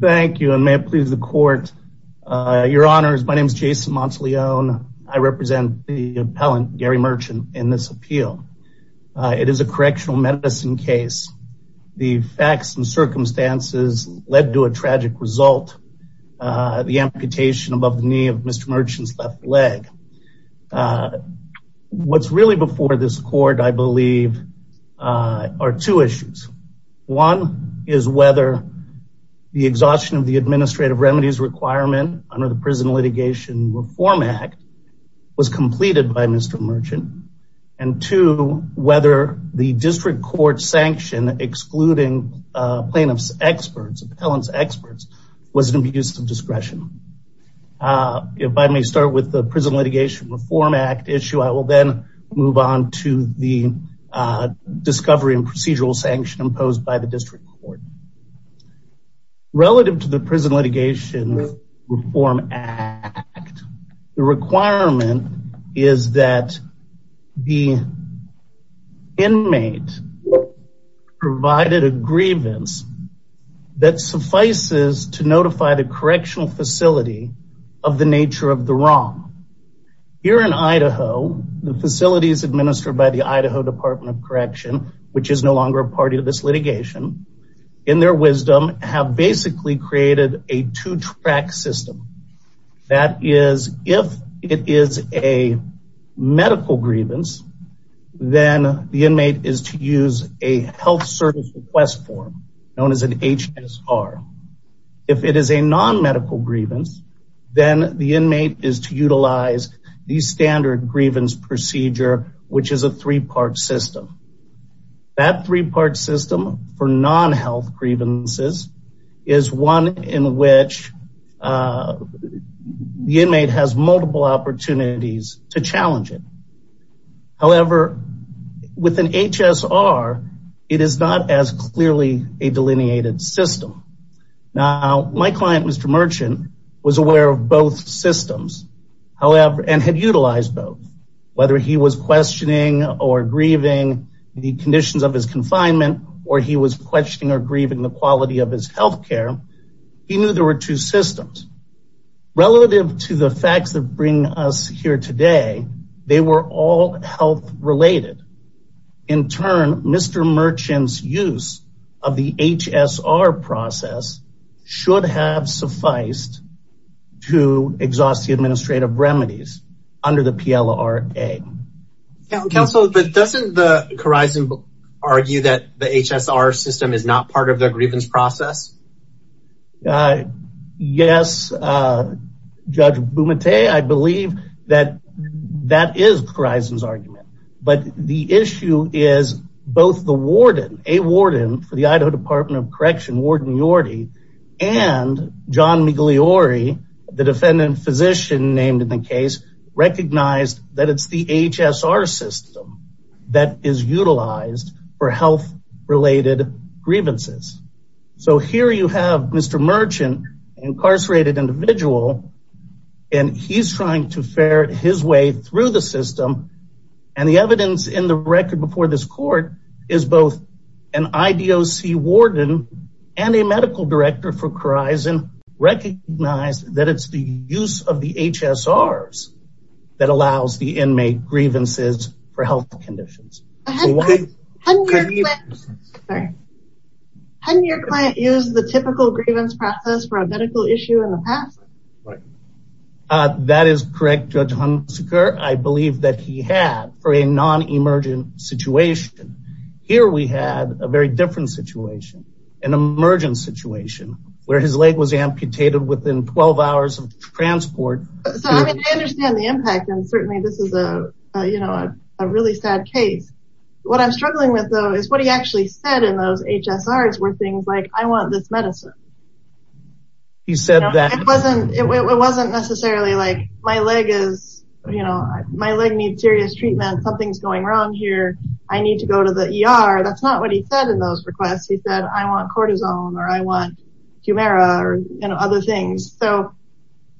Thank you and may it please the court. Your honors, my name is Jason Monteleone. I represent the appellant Gary Merchant in this appeal. It is a correctional medicine case. The facts and circumstances led to a tragic result. The amputation above the knee of Mr. Merchant's left leg. What is really before this court, I believe, are two issues. One is whether the exhaustion of the administrative remedies requirement under the Prison Litigation Reform Act was completed by Mr. Merchant. And two, whether the district court sanction excluding plaintiff's experts, was an abuse of discretion. If I may start with the Prison Litigation Reform Act issue, I will then move on to the discovery and procedural sanction imposed by the district court. Relative to the Prison Litigation Reform Act, the requirement is that the inmate provided a grievance that suffices to notify the correctional facility of the nature of the wrong. Here in Idaho, the facilities administered by the Idaho Department of Correction, which is no longer a party to this litigation, in their wisdom have basically created a two-track system. That is, if it is a medical grievance, then the inmate is to use a health service request form known as an HSR. If it is a non-medical grievance, then the inmate is to utilize the standard grievance procedure, which is a three-part system. That three-part system for non-health grievances is one in which the inmate has multiple opportunities to challenge it. However, with an HSR, it is not as clearly a delineated system. Now, my client, Mr. Merchant, was aware of both systems and had utilized both. Whether he was questioning or grieving the conditions of his confinement, or he was questioning or grieving the quality of his health care, he knew there were two systems. Relative to the facts that bring us here today, they were all health-related. In turn, Mr. Merchant's use of the HSR process should have sufficed to exhaust the administrative remedies under the PLRA. Counsel, but doesn't the Corison argue that the HSR system is not part of the grievance process? Yes, Judge Bumate, I believe that that is Corison's argument. But the issue is both the warden, a warden for the Idaho Department of Correction, Warden Yorty, and John Migliore, the defendant physician named in the case, recognized that it's the HSR system that is utilized for health-related grievances. So here you have Mr. Merchant, an incarcerated individual, and he's trying to ferret his way through the system. And the evidence in the record before this court is both an IDOC warden and a medical director for Corison recognize that it's the use of the HSRs that allows the inmate grievances for health conditions. Can your client use the typical grievance process for a I believe that he had for a non-emergent situation. Here we had a very different situation, an emergent situation where his leg was amputated within 12 hours of transport. So I mean I understand the impact and certainly this is a you know a really sad case. What I'm struggling with though is what he actually said in those HSRs were things like I want this medicine. He said that it wasn't it wasn't necessarily like my leg is you know my leg needs serious treatment. Something's going wrong here. I need to go to the ER. That's not what he said in those requests. He said I want cortisone or I want Humira or you know other things. So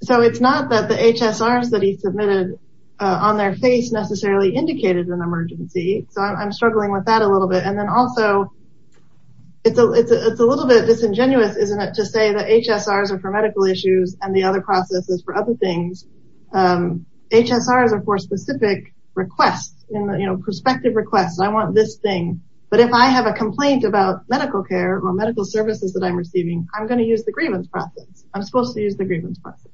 it's not that the HSRs that he submitted on their face necessarily indicated an emergency. So I'm struggling with that a little bit and then also it's a it's a little bit disingenuous isn't it to say that HSRs are for medical issues and the other process is for other things. HSRs are for specific requests and you know prospective requests. I want this thing but if I have a complaint about medical care or medical services that I'm receiving I'm going to use the grievance process. I'm supposed to use the grievance process.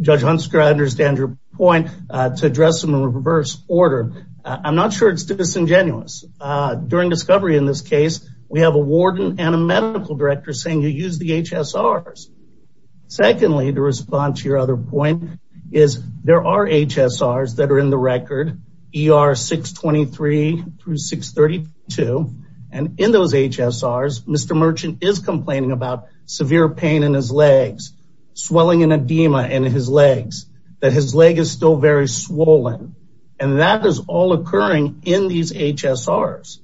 Judge Hunsker I understand your point to address them in reverse order. I'm not sure it's disingenuous. During discovery in this case we have a warden and a medical director saying you use the HSRs. Secondly to respond to your other point is there are HSRs that are in the record ER 623 through 632 and in those HSRs Mr. Merchant is complaining about severe pain in his legs swelling and edema in his legs that his leg is still very swollen and that is all occurring in these HSRs.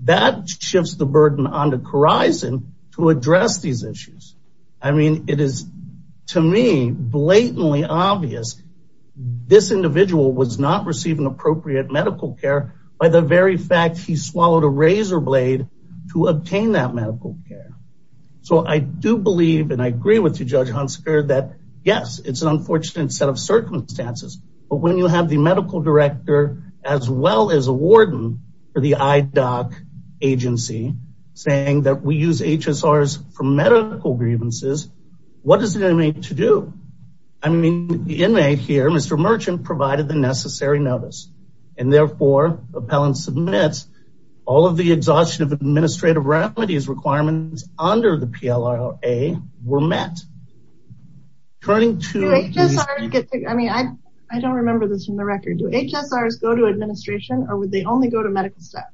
That shifts the burden on the horizon to address these issues. I mean it is to me blatantly obvious this individual was not receiving appropriate medical care by the very fact he swallowed a razor blade to obtain that medical care. So I do believe and I agree with you Judge Hunsker that yes it's an unfortunate set of circumstances but when you have the medical director as well as a warden for the IDOC agency saying that we use HSRs for medical grievances what does it mean to do? I mean the inmate here Mr. Merchant provided the necessary notice and therefore appellant submits all of the exhaustion of administrative requirements under the PLOA were met. I mean I don't remember this from the record do HSRs go to administration or would they only go to medical staff?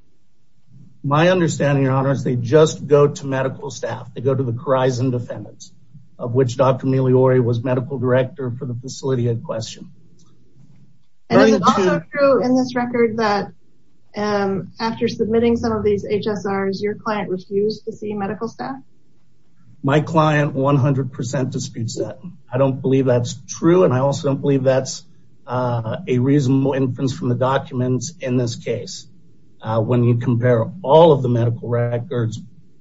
My understanding your honor is they just go to medical staff they go to the horizon defendants of which Dr. Migliore was medical director for the facility in question. And is it also true in this record that after submitting some of these HSRs your client refused to see medical staff? My client 100% disputes that. I don't believe that's true and I also don't believe that's a reasonable inference from the documents in this case. When you compare all of the medical records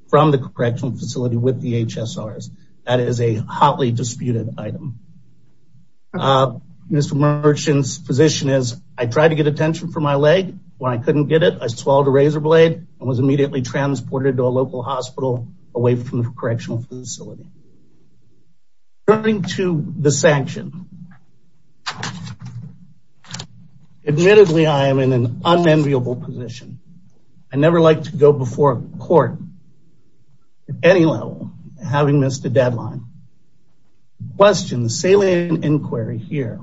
from the correctional facility with the HSRs that is a hotly disputed item. Mr. Merchant's position is I tried to get attention for my leg when I couldn't get it I swallowed a razor blade and was immediately transported to a local hospital away from the correctional facility. Turning to the sanction admittedly I am in an unenviable position. I never like to go before a court at any level having missed a deadline. The question the salient inquiry here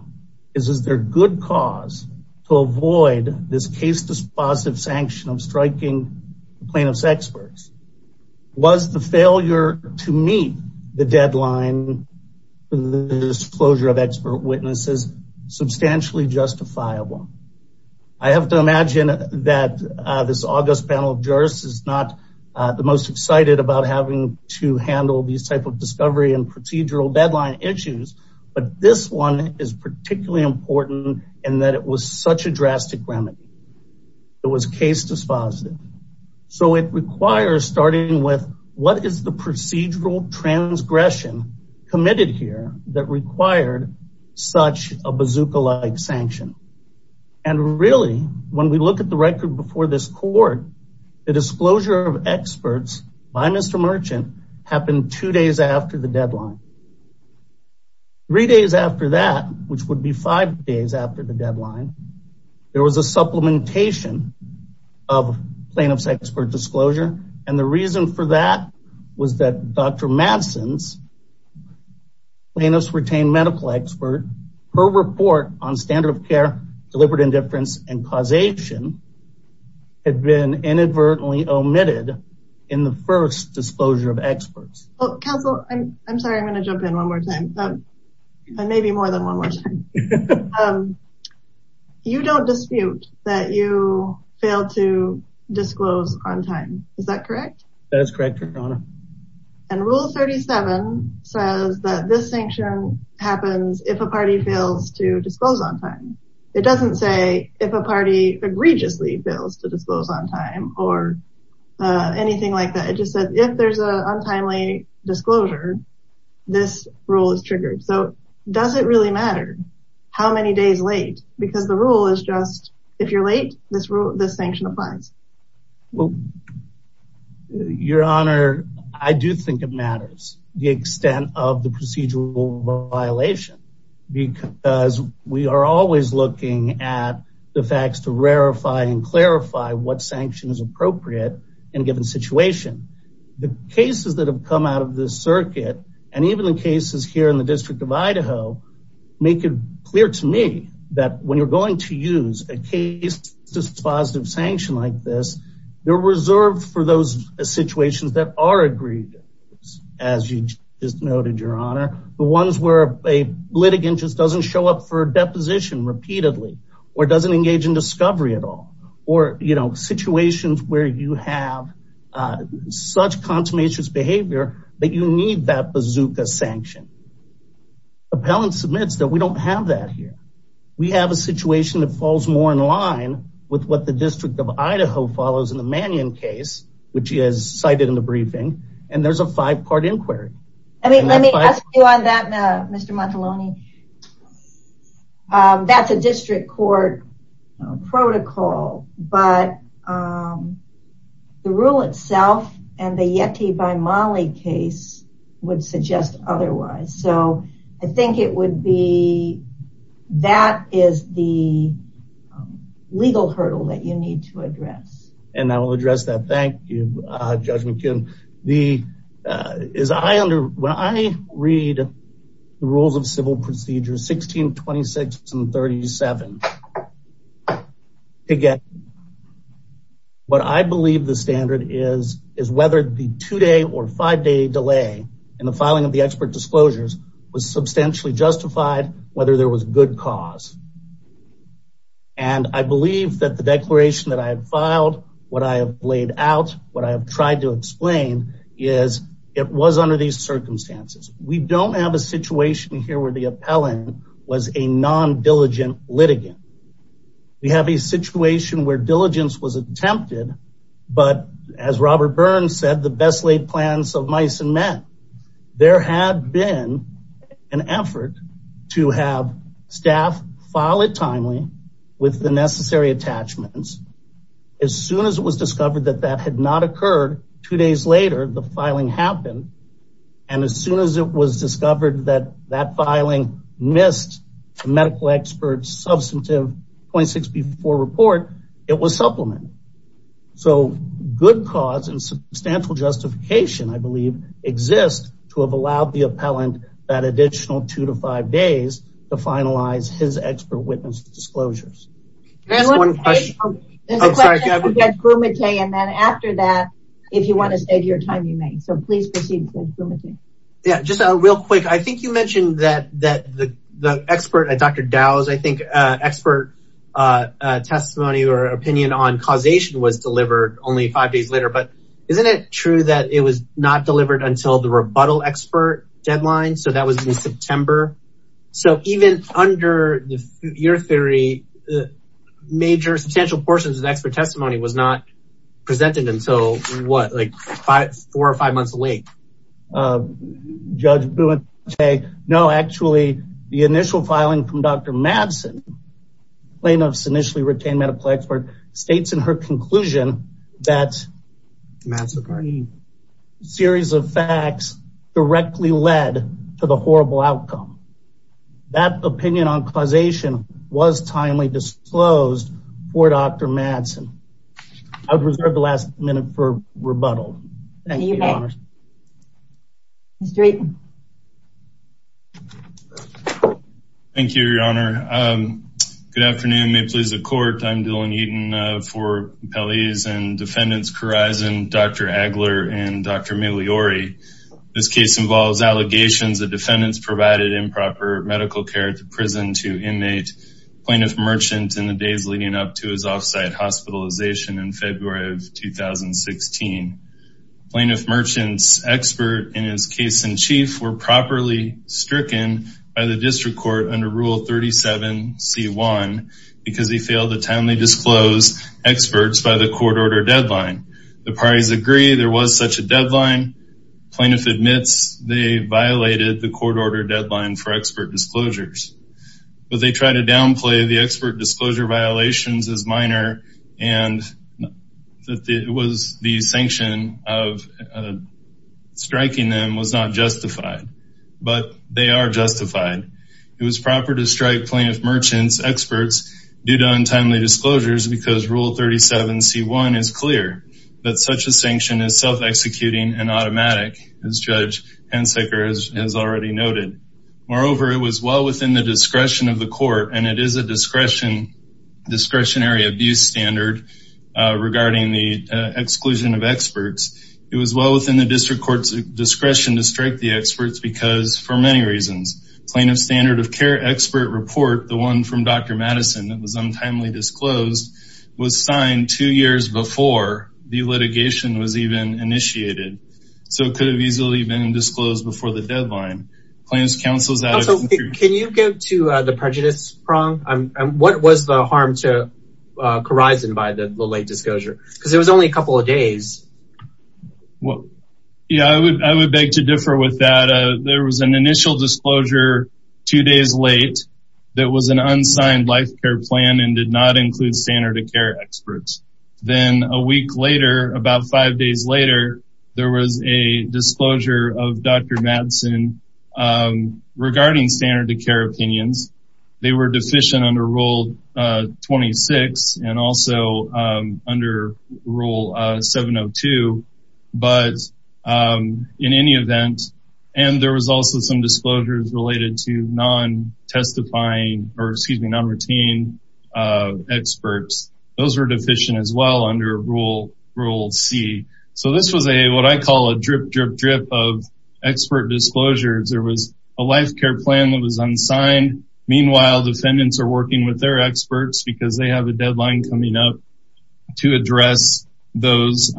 is is there good cause to avoid this case dispositive sanction of striking plaintiff's experts? Was the failure to meet the deadline the disclosure of expert witnesses substantially justifiable? I have to imagine that this august panel of jurists is not the most excited about having to handle these type of discovery and procedural deadline issues but this one is particularly important in that it was such a drastic remedy. It was case dispositive so it requires starting with what is the procedural transgression committed here that required such a bazooka-like sanction and really when we look at the record before this court the disclosure of experts by Mr. Merchant happened two days after the deadline. Three days after that which would be five days after the deadline there was a supplementation of plaintiff's expert disclosure and the reason for that was that Dr. Madsen's plaintiff's retained medical expert her report on standard of care deliberate indifference and causation had been inadvertently omitted in the first disclosure of experts. Well counsel I'm sorry I'm going to jump in one more time and maybe more than one more time. You don't dispute that you failed to disclose on time is that correct? That is correct your honor. And rule 37 says that this sanction happens if a party fails to disclose on time. It doesn't say if a party egregiously fails to disclose on time or anything like that it just says if there's a untimely disclosure this rule is triggered so does it really matter how many days late because the rule is just if you're late this rule this sanction applies. Well your honor I do think it matters the extent of the procedural violation because we are always looking at the facts to rarify and clarify what sanction is appropriate in a given situation. The cases that have come out of this circuit and even the cases here in the district of Idaho make it clear to me that when you're going to use a case dispositive sanction like this they're reserved for those situations that are agreed as you just noted your honor the ones where a litigant just doesn't show up for a deposition repeatedly or doesn't engage in discovery at all or you know situations where you have such consummationist behavior that you need that bazooka sanction. Appellants admits that we don't have that here we have a situation that falls more in line with what the district of Idaho follows in the Mannion case which is cited in the Mr. Mataloni that's a district court protocol but the rule itself and the Yeti by Molly case would suggest otherwise so I think it would be that is the legal hurdle that you need to address. And I will address that thank you uh Judge McKinnon the uh is I under when I read the rules of civil procedure 16 26 and 37 again what I believe the standard is is whether the two-day or five-day delay in the filing of the expert disclosures was substantially justified whether there was good cause and I believe that the declaration that I have filed what I have laid out what I have tried to explain is it was under these circumstances we don't have a situation here where the appellant was a non-diligent litigant we have a situation where diligence was attempted but as Robert Burns said the best laid plans of mice and men there had been an effort to have staff file it timely with the necessary attachments as soon as it was discovered that that had not occurred two days later the filing happened and as soon as it was discovered that that filing missed the medical experts substantive 0.6 before report it was supplemented so good cause and substantial justification I believe exists to have allowed the appellant that additional two to five days to finalize his expert witness disclosures there's one question and then after that if you want to save your time you may so please proceed yeah just a real quick I think you mentioned that that the uh testimony or opinion on causation was delivered only five days later but isn't it true that it was not delivered until the rebuttal expert deadline so that was in September so even under your theory major substantial portions of expert testimony was not presented until what like five four or months late uh judge okay no actually the initial filing from Dr. Madsen plaintiff's initially retained medical expert states in her conclusion that series of facts directly led to the horrible outcome that opinion on causation was timely disclosed for Dr. Madsen I would Mr. Eaton. Thank you your honor um good afternoon may it please the court I'm Dylan Eaton uh for appellees and defendants Corizon, Dr. Agler, and Dr. Migliore. This case involves allegations the defendants provided improper medical care to prison to inmate plaintiff merchant in the days leading up to his off-site hospitalization in February of 2016. Plaintiff merchants expert in his case in chief were properly stricken by the district court under rule 37 c1 because he failed to timely disclose experts by the court order deadline. The parties agree there was such a deadline plaintiff admits they violated the court order deadline for expert disclosures but they try to downplay the expert disclosure violations as minor and that it was the sanction of striking them was not justified but they are justified. It was proper to strike plaintiff merchants experts due to untimely disclosures because rule 37 c1 is clear that such a sanction is self-executing and automatic as judge Hensicker has already noted. Moreover it was well within the discretion of the court and it is a discretion discretionary standard regarding the exclusion of experts. It was well within the district court's discretion to strike the experts because for many reasons plaintiff standard of care expert report the one from Dr. Madison that was untimely disclosed was signed two years before the litigation was even initiated so it could have easily been disclosed before the deadline. Can you give to the prejudice prong and what was the harm to Khorizan by the late disclosure because it was only a couple of days. Well yeah I would I would beg to differ with that there was an initial disclosure two days late that was an unsigned life care plan and did not include standard of care experts. Then a week later about five days later there was a disclosure of Dr. Madison regarding standard to care opinions. They were deficient under rule 26 and also under rule 702 but in any event and there was also some disclosures related to non-testifying or excuse me non-routine experts those were deficient as well under rule rule c. So this was a what I call drip drip drip of expert disclosures there was a life care plan that was unsigned meanwhile defendants are working with their experts because they have a deadline coming up to address those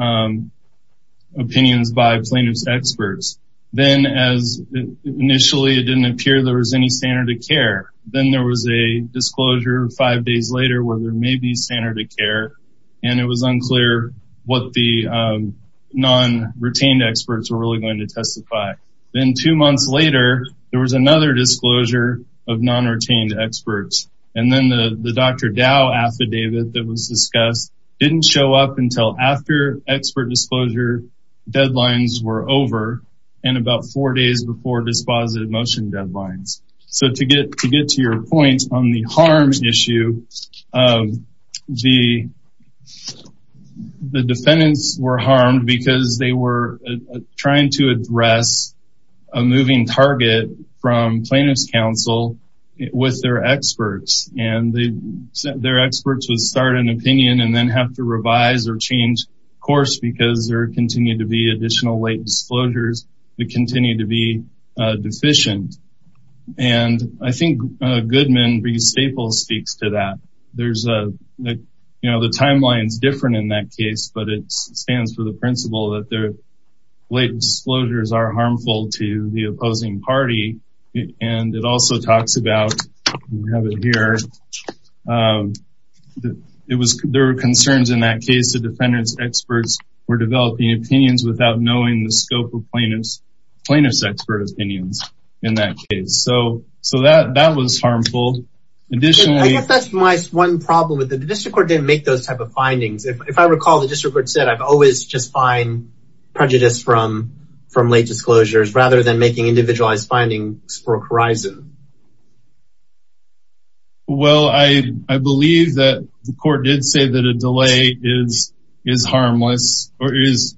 opinions by plaintiff's experts. Then as initially it didn't appear there was any standard of care then there was a disclosure five days later where there may be standard of care and it was unclear what the non-retained experts were really going to testify. Then two months later there was another disclosure of non-retained experts and then the Dr. Dow affidavit that was discussed didn't show up until after expert disclosure deadlines were over and about four days before dispositive motion the defendants were harmed because they were trying to address a moving target from plaintiff's counsel with their experts and their experts would start an opinion and then have to revise or change course because there continued to be additional late disclosures that continue to be deficient and I think Goodman v. Staples speaks to that there's a you know the timeline is different in that case but it stands for the principle that their late disclosures are harmful to the opposing party and it also talks about we have it here it was there were concerns in that case the defendants experts were developing opinions without knowing the scope of plaintiff's expert opinions in that case so so that that was harmful additionally that's my one problem with the district court didn't make those type of findings if i recall the district court said i've always just find prejudice from from late disclosures rather than making individualized findings for horizon well i i believe that the court did say that a delay is is harmless or is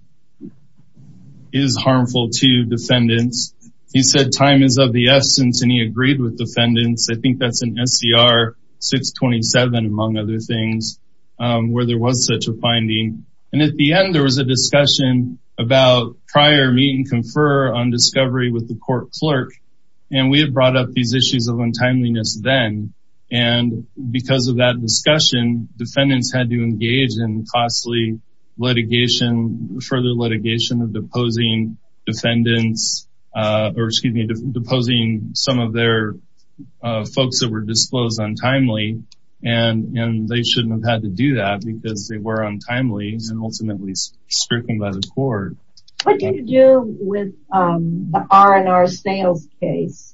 is harmful to defendants he said time is of the essence and he agreed with defendants i think that's an scr627 among other things where there was such a finding and at the end there was a discussion about prior meet and confer on discovery with the court clerk and we had brought up these issues of untimeliness then and because of that discussion defendants had to engage in costly litigation further litigation of deposing defendants or excuse me deposing some of their folks that were disclosed untimely and and they shouldn't have had to do that because they were untimely and ultimately stricken by the court what do you do with the r&r sales case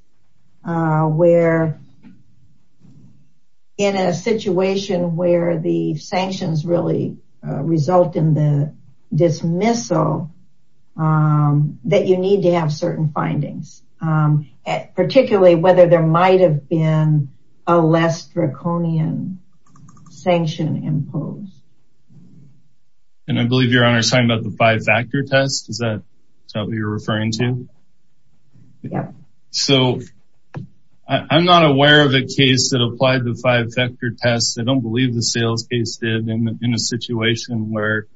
uh where in a situation where the sanctions really result in the dismissal um that you need to have certain findings um particularly whether there might have been a less draconian sanction imposed and i believe your honor's talking about the five-factor test is that what you're referring to so i'm not aware of a case that applied the five-factor test i don't believe the sales case did in a situation where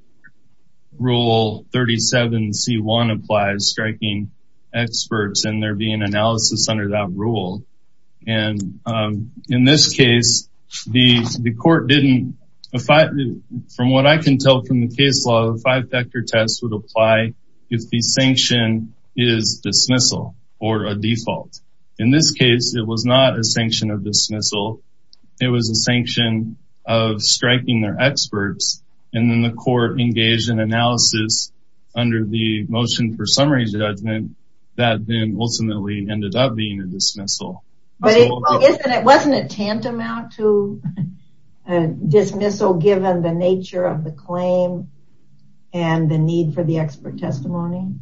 rule 37 c1 applies striking experts and there be an analysis under that rule and um in this case the the court didn't if i from what i can tell from the case law the five-factor test would apply if the sanction is dismissal or a default in this case it was not a sanction of dismissal it was a sanction of striking their experts and then the court engaged in analysis under the motion for summary judgment that then ultimately ended up being a dismissal but it wasn't a tantamount to a dismissal given the nature of the claim and the need for the expert testimony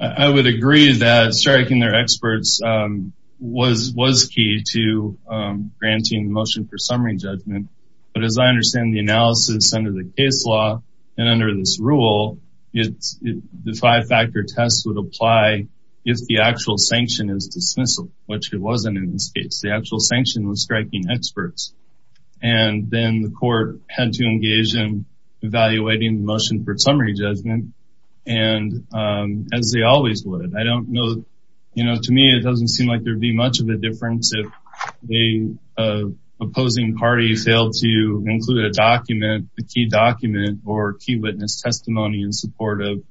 i would agree that striking their experts um was was key to um granting the motion for summary judgment but as i understand the analysis under the case law and under this rule it's the five-factor test would apply if the actual sanction is dismissal which it wasn't in this case the actual sanction was striking experts and then the court had to engage in evaluating the motion for summary judgment and um as they always would i don't know you know to me it doesn't seem like there'd be much of a difference if the opposing party failed to include a document the key document or key witness testimony in support of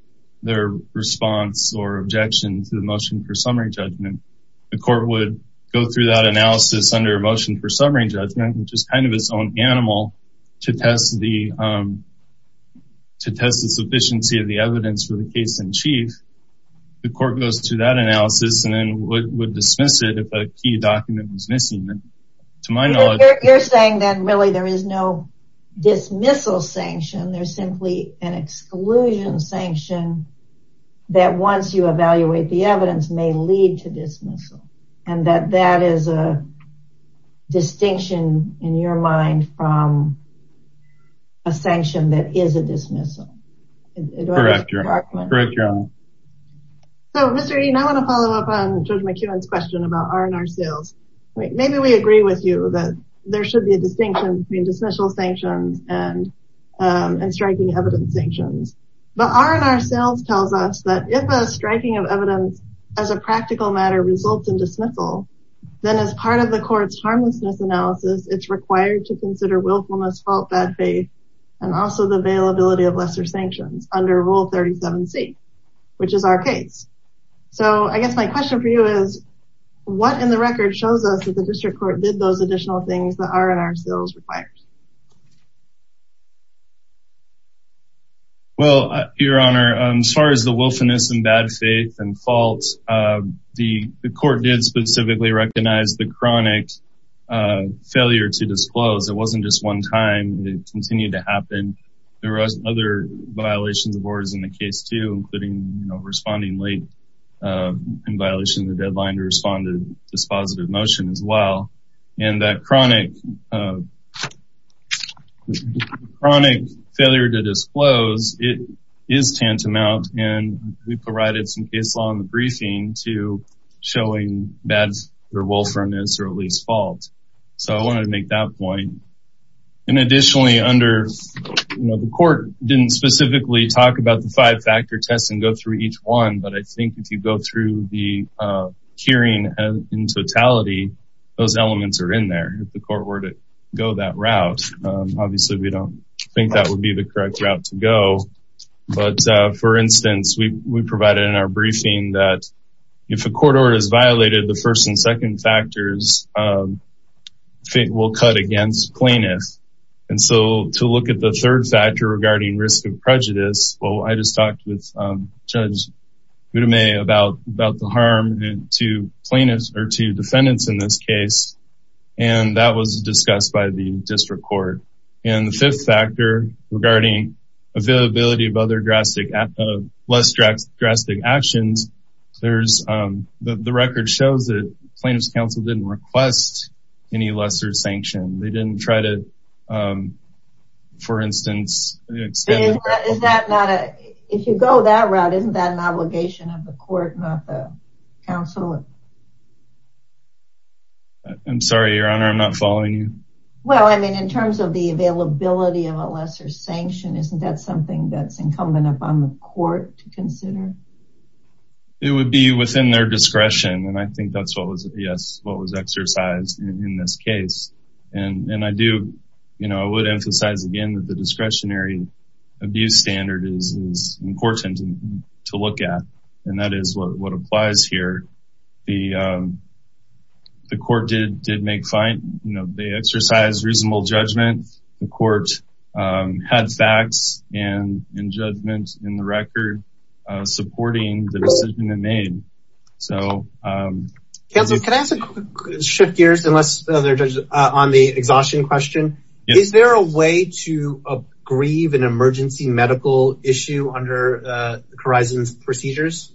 their response or objection to the motion for summary judgment the court would go through that analysis under motion for summary judgment which is kind of its own animal to test the um to test the sufficiency of the evidence for the case in chief the court goes through that analysis and then would dismiss it if a key document was missing to my knowledge you're saying that really there is no dismissal sanction there's simply an exclusion sanction that once you evaluate the evidence may lead to dismissal and that that is a distinction in your mind from a sanction that is a dismissal so mr dean i want to follow up on judge mckeon's question about r&r sales wait maybe we agree with you that there should be a distinction between dismissal sanctions and um and striking evidence sanctions but r&r sales tells us that if a striking of evidence as a practical matter results in dismissal then as part of the court's harmlessness analysis it's required to consider willfulness fault bad faith and also the availability of lesser sanctions under rule 37c which is our case so i guess my question for you is what in the record shows us the district court did those additional things that r&r sales requires well your honor as far as the wilfulness and bad faith and faults the court did specifically recognize the chronic failure to disclose it wasn't just one time it continued to happen there were other violations of orders in the case too including you know responding late in violation of the deadline to respond to this positive motion as well and that chronic chronic failure to disclose it is tantamount and we provided some case law in the briefing to showing bad or wilfulness or at least fault so i wanted to make that point and additionally under you know the court didn't specifically talk about the five factor tests and go through each one but i think if you go through the uh hearing in totality those elements are in there if the court were to go that route obviously we don't think that would be the correct route to go but uh for instance we we provided in our briefing that if a court order is violated the first and second factors um fit will cut against cleanness and so to look at the third factor regarding risk of prejudice well i just talked with um judge about about the harm to plaintiffs or to defendants in this case and that was discussed by the district court and the fifth factor regarding availability of other drastic less drastic actions there's um the record shows plaintiffs council didn't request any lesser sanction they didn't try to um for instance is that not a if you go that route isn't that an obligation of the court not the council i'm sorry your honor i'm not following you well i mean in terms of the availability of a lesser sanction isn't that something that's incumbent upon the court to consider it would be within their discretion and i think that's what was yes what was exercised in this case and and i do you know i would emphasize again that the discretionary abuse standard is important to look at and that is what applies here the um the court did did make fine you know they exercised reasonable judgment the court um had facts and in judgment in the record supporting the decision they made so um can i ask a quick shift gears unless they're judges on the exhaustion question is there a way to grieve an emergency medical issue under horizons procedures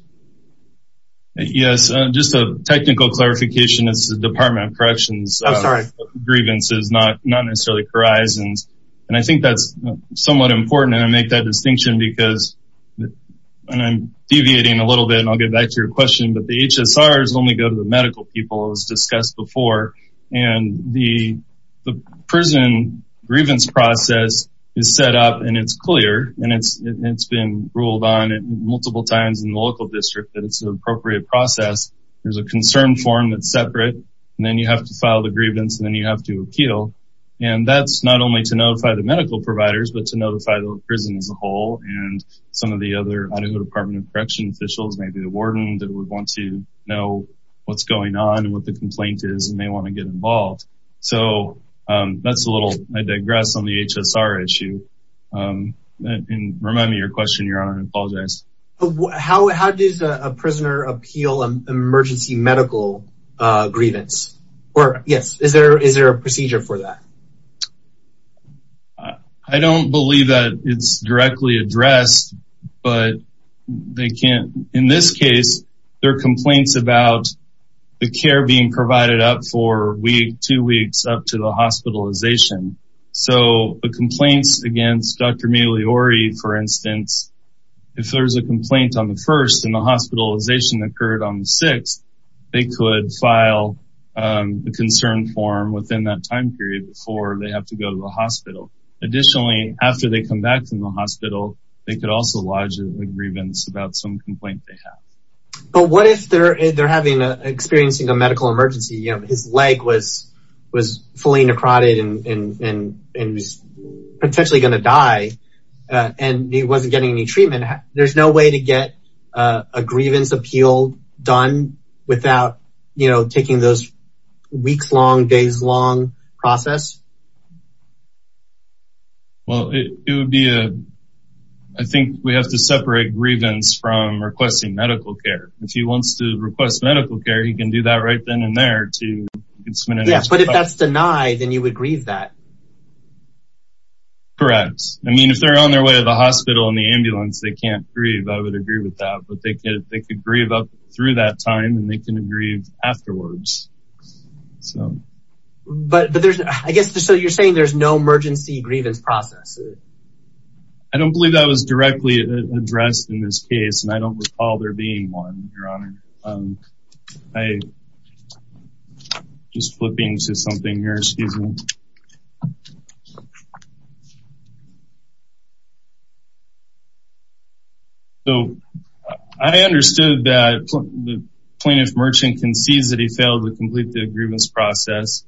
yes just a technical clarification it's the department of grievances not not necessarily horizons and i think that's somewhat important and i make that distinction because when i'm deviating a little bit and i'll get back to your question but the hsr is only go to the medical people as discussed before and the the prison grievance process is set up and it's clear and it's it's been ruled on it multiple times in the local district that it's an appropriate process there's a concern form that's separate and then you have to file the grievance and then you have to appeal and that's not only to notify the medical providers but to notify the prison as a whole and some of the other department of correction officials maybe the warden that would want to know what's going on and what the complaint is and they want to get involved so um that's a little i digress on the hsr issue um and remind me your question i apologize how how does a prisoner appeal an emergency medical uh grievance or yes is there is there a procedure for that i don't believe that it's directly addressed but they can't in this case there are complaints about the care being provided up for week two weeks up to the if there's a complaint on the first and the hospitalization occurred on the sixth they could file the concern form within that time period before they have to go to the hospital additionally after they come back from the hospital they could also lodge a grievance about some complaint they have but what if they're they're having a experiencing a medical emergency you know his leg was was fully necrotic and and and he's potentially going to die and he wasn't getting any treatment there's no way to get a grievance appeal done without you know taking those weeks long days long process well it would be a i think we have to separate grievance from requesting medical care if he wants to request medical care he can do that right then and there too but if that's denied then you would grieve that correct i mean if they're on their way to the hospital and the ambulance they can't grieve i would agree with that but they could they could grieve up through that time and they can agree afterwards so but but there's i guess so you're saying there's no emergency grievance process i don't believe that was directly addressed in this case and i don't recall there being one your honor um i just flipping to something here excuse me so i understood that the plaintiff merchant concedes that he failed to complete the agreements process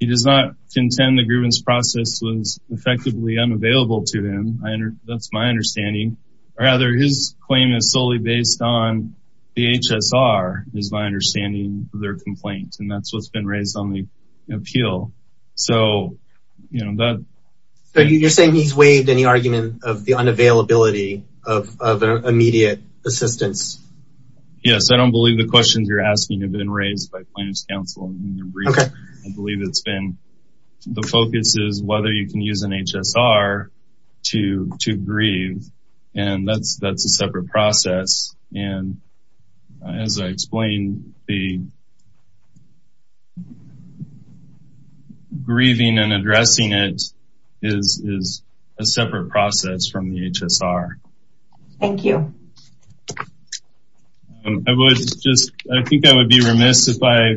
he does not contend the grievance process was effectively unavailable to him that's my understanding or rather his claim is solely based on the hsr is my understanding their complaint and that's what's been raised on the appeal so you know that so you're saying he's waived any argument of the unavailability of of immediate assistance yes i don't believe the questions you're asking have been raised by plaintiff's counsel okay i believe it's been the focus is whether you can use an hsr to to grieve and that's that's a separate process and as i explained the grieving and addressing it is is a separate process from the hsr thank you i would just i think i would be remiss if i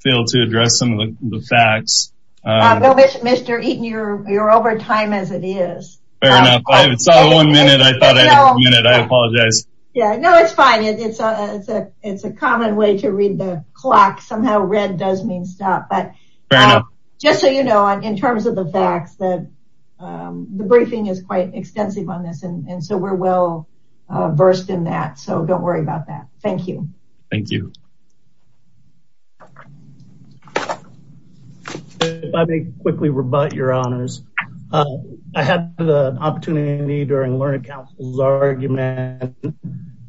failed to address some of the facts mr eaton you're you're over time as it is fair enough i saw one minute i thought i had a minute i apologize yeah no it's fine it's a it's a it's a common way to read the clock somehow red does mean stop but fair enough just so you know in terms of the facts that um the briefing is quite extensive on this and and so we're well uh versed in that so don't worry about that thank you thank you i may quickly rebut your honors uh i had the opportunity during learning council's argument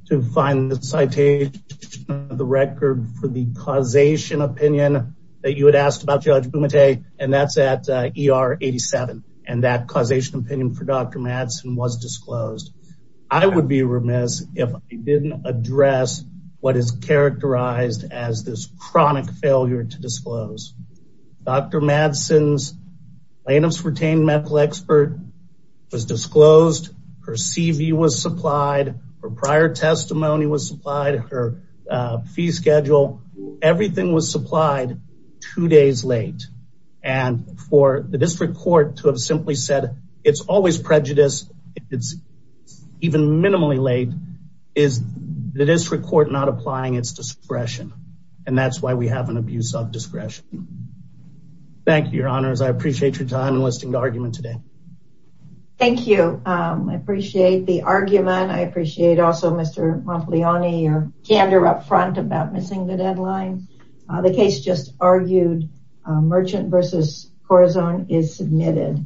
to find the citation of the record for the causation opinion that you had asked about judge bumate and that's at er 87 and that causation opinion for dr madsen was disclosed i would be remiss if i didn't address what is characterized as this chronic failure to disclose dr madsen's plaintiffs retained medical expert was disclosed her cv was supplied her prior testimony was supplied her uh fee schedule everything was supplied two days late and for the district court to have simply said it's always prejudiced it's even minimally late is the district court not applying its discretion and that's why we have an abuse of discretion thank you your honors i appreciate your time enlisting the argument today thank you um i appreciate the argument i appreciate also mr monteleone your case just argued merchant versus corazon is submitted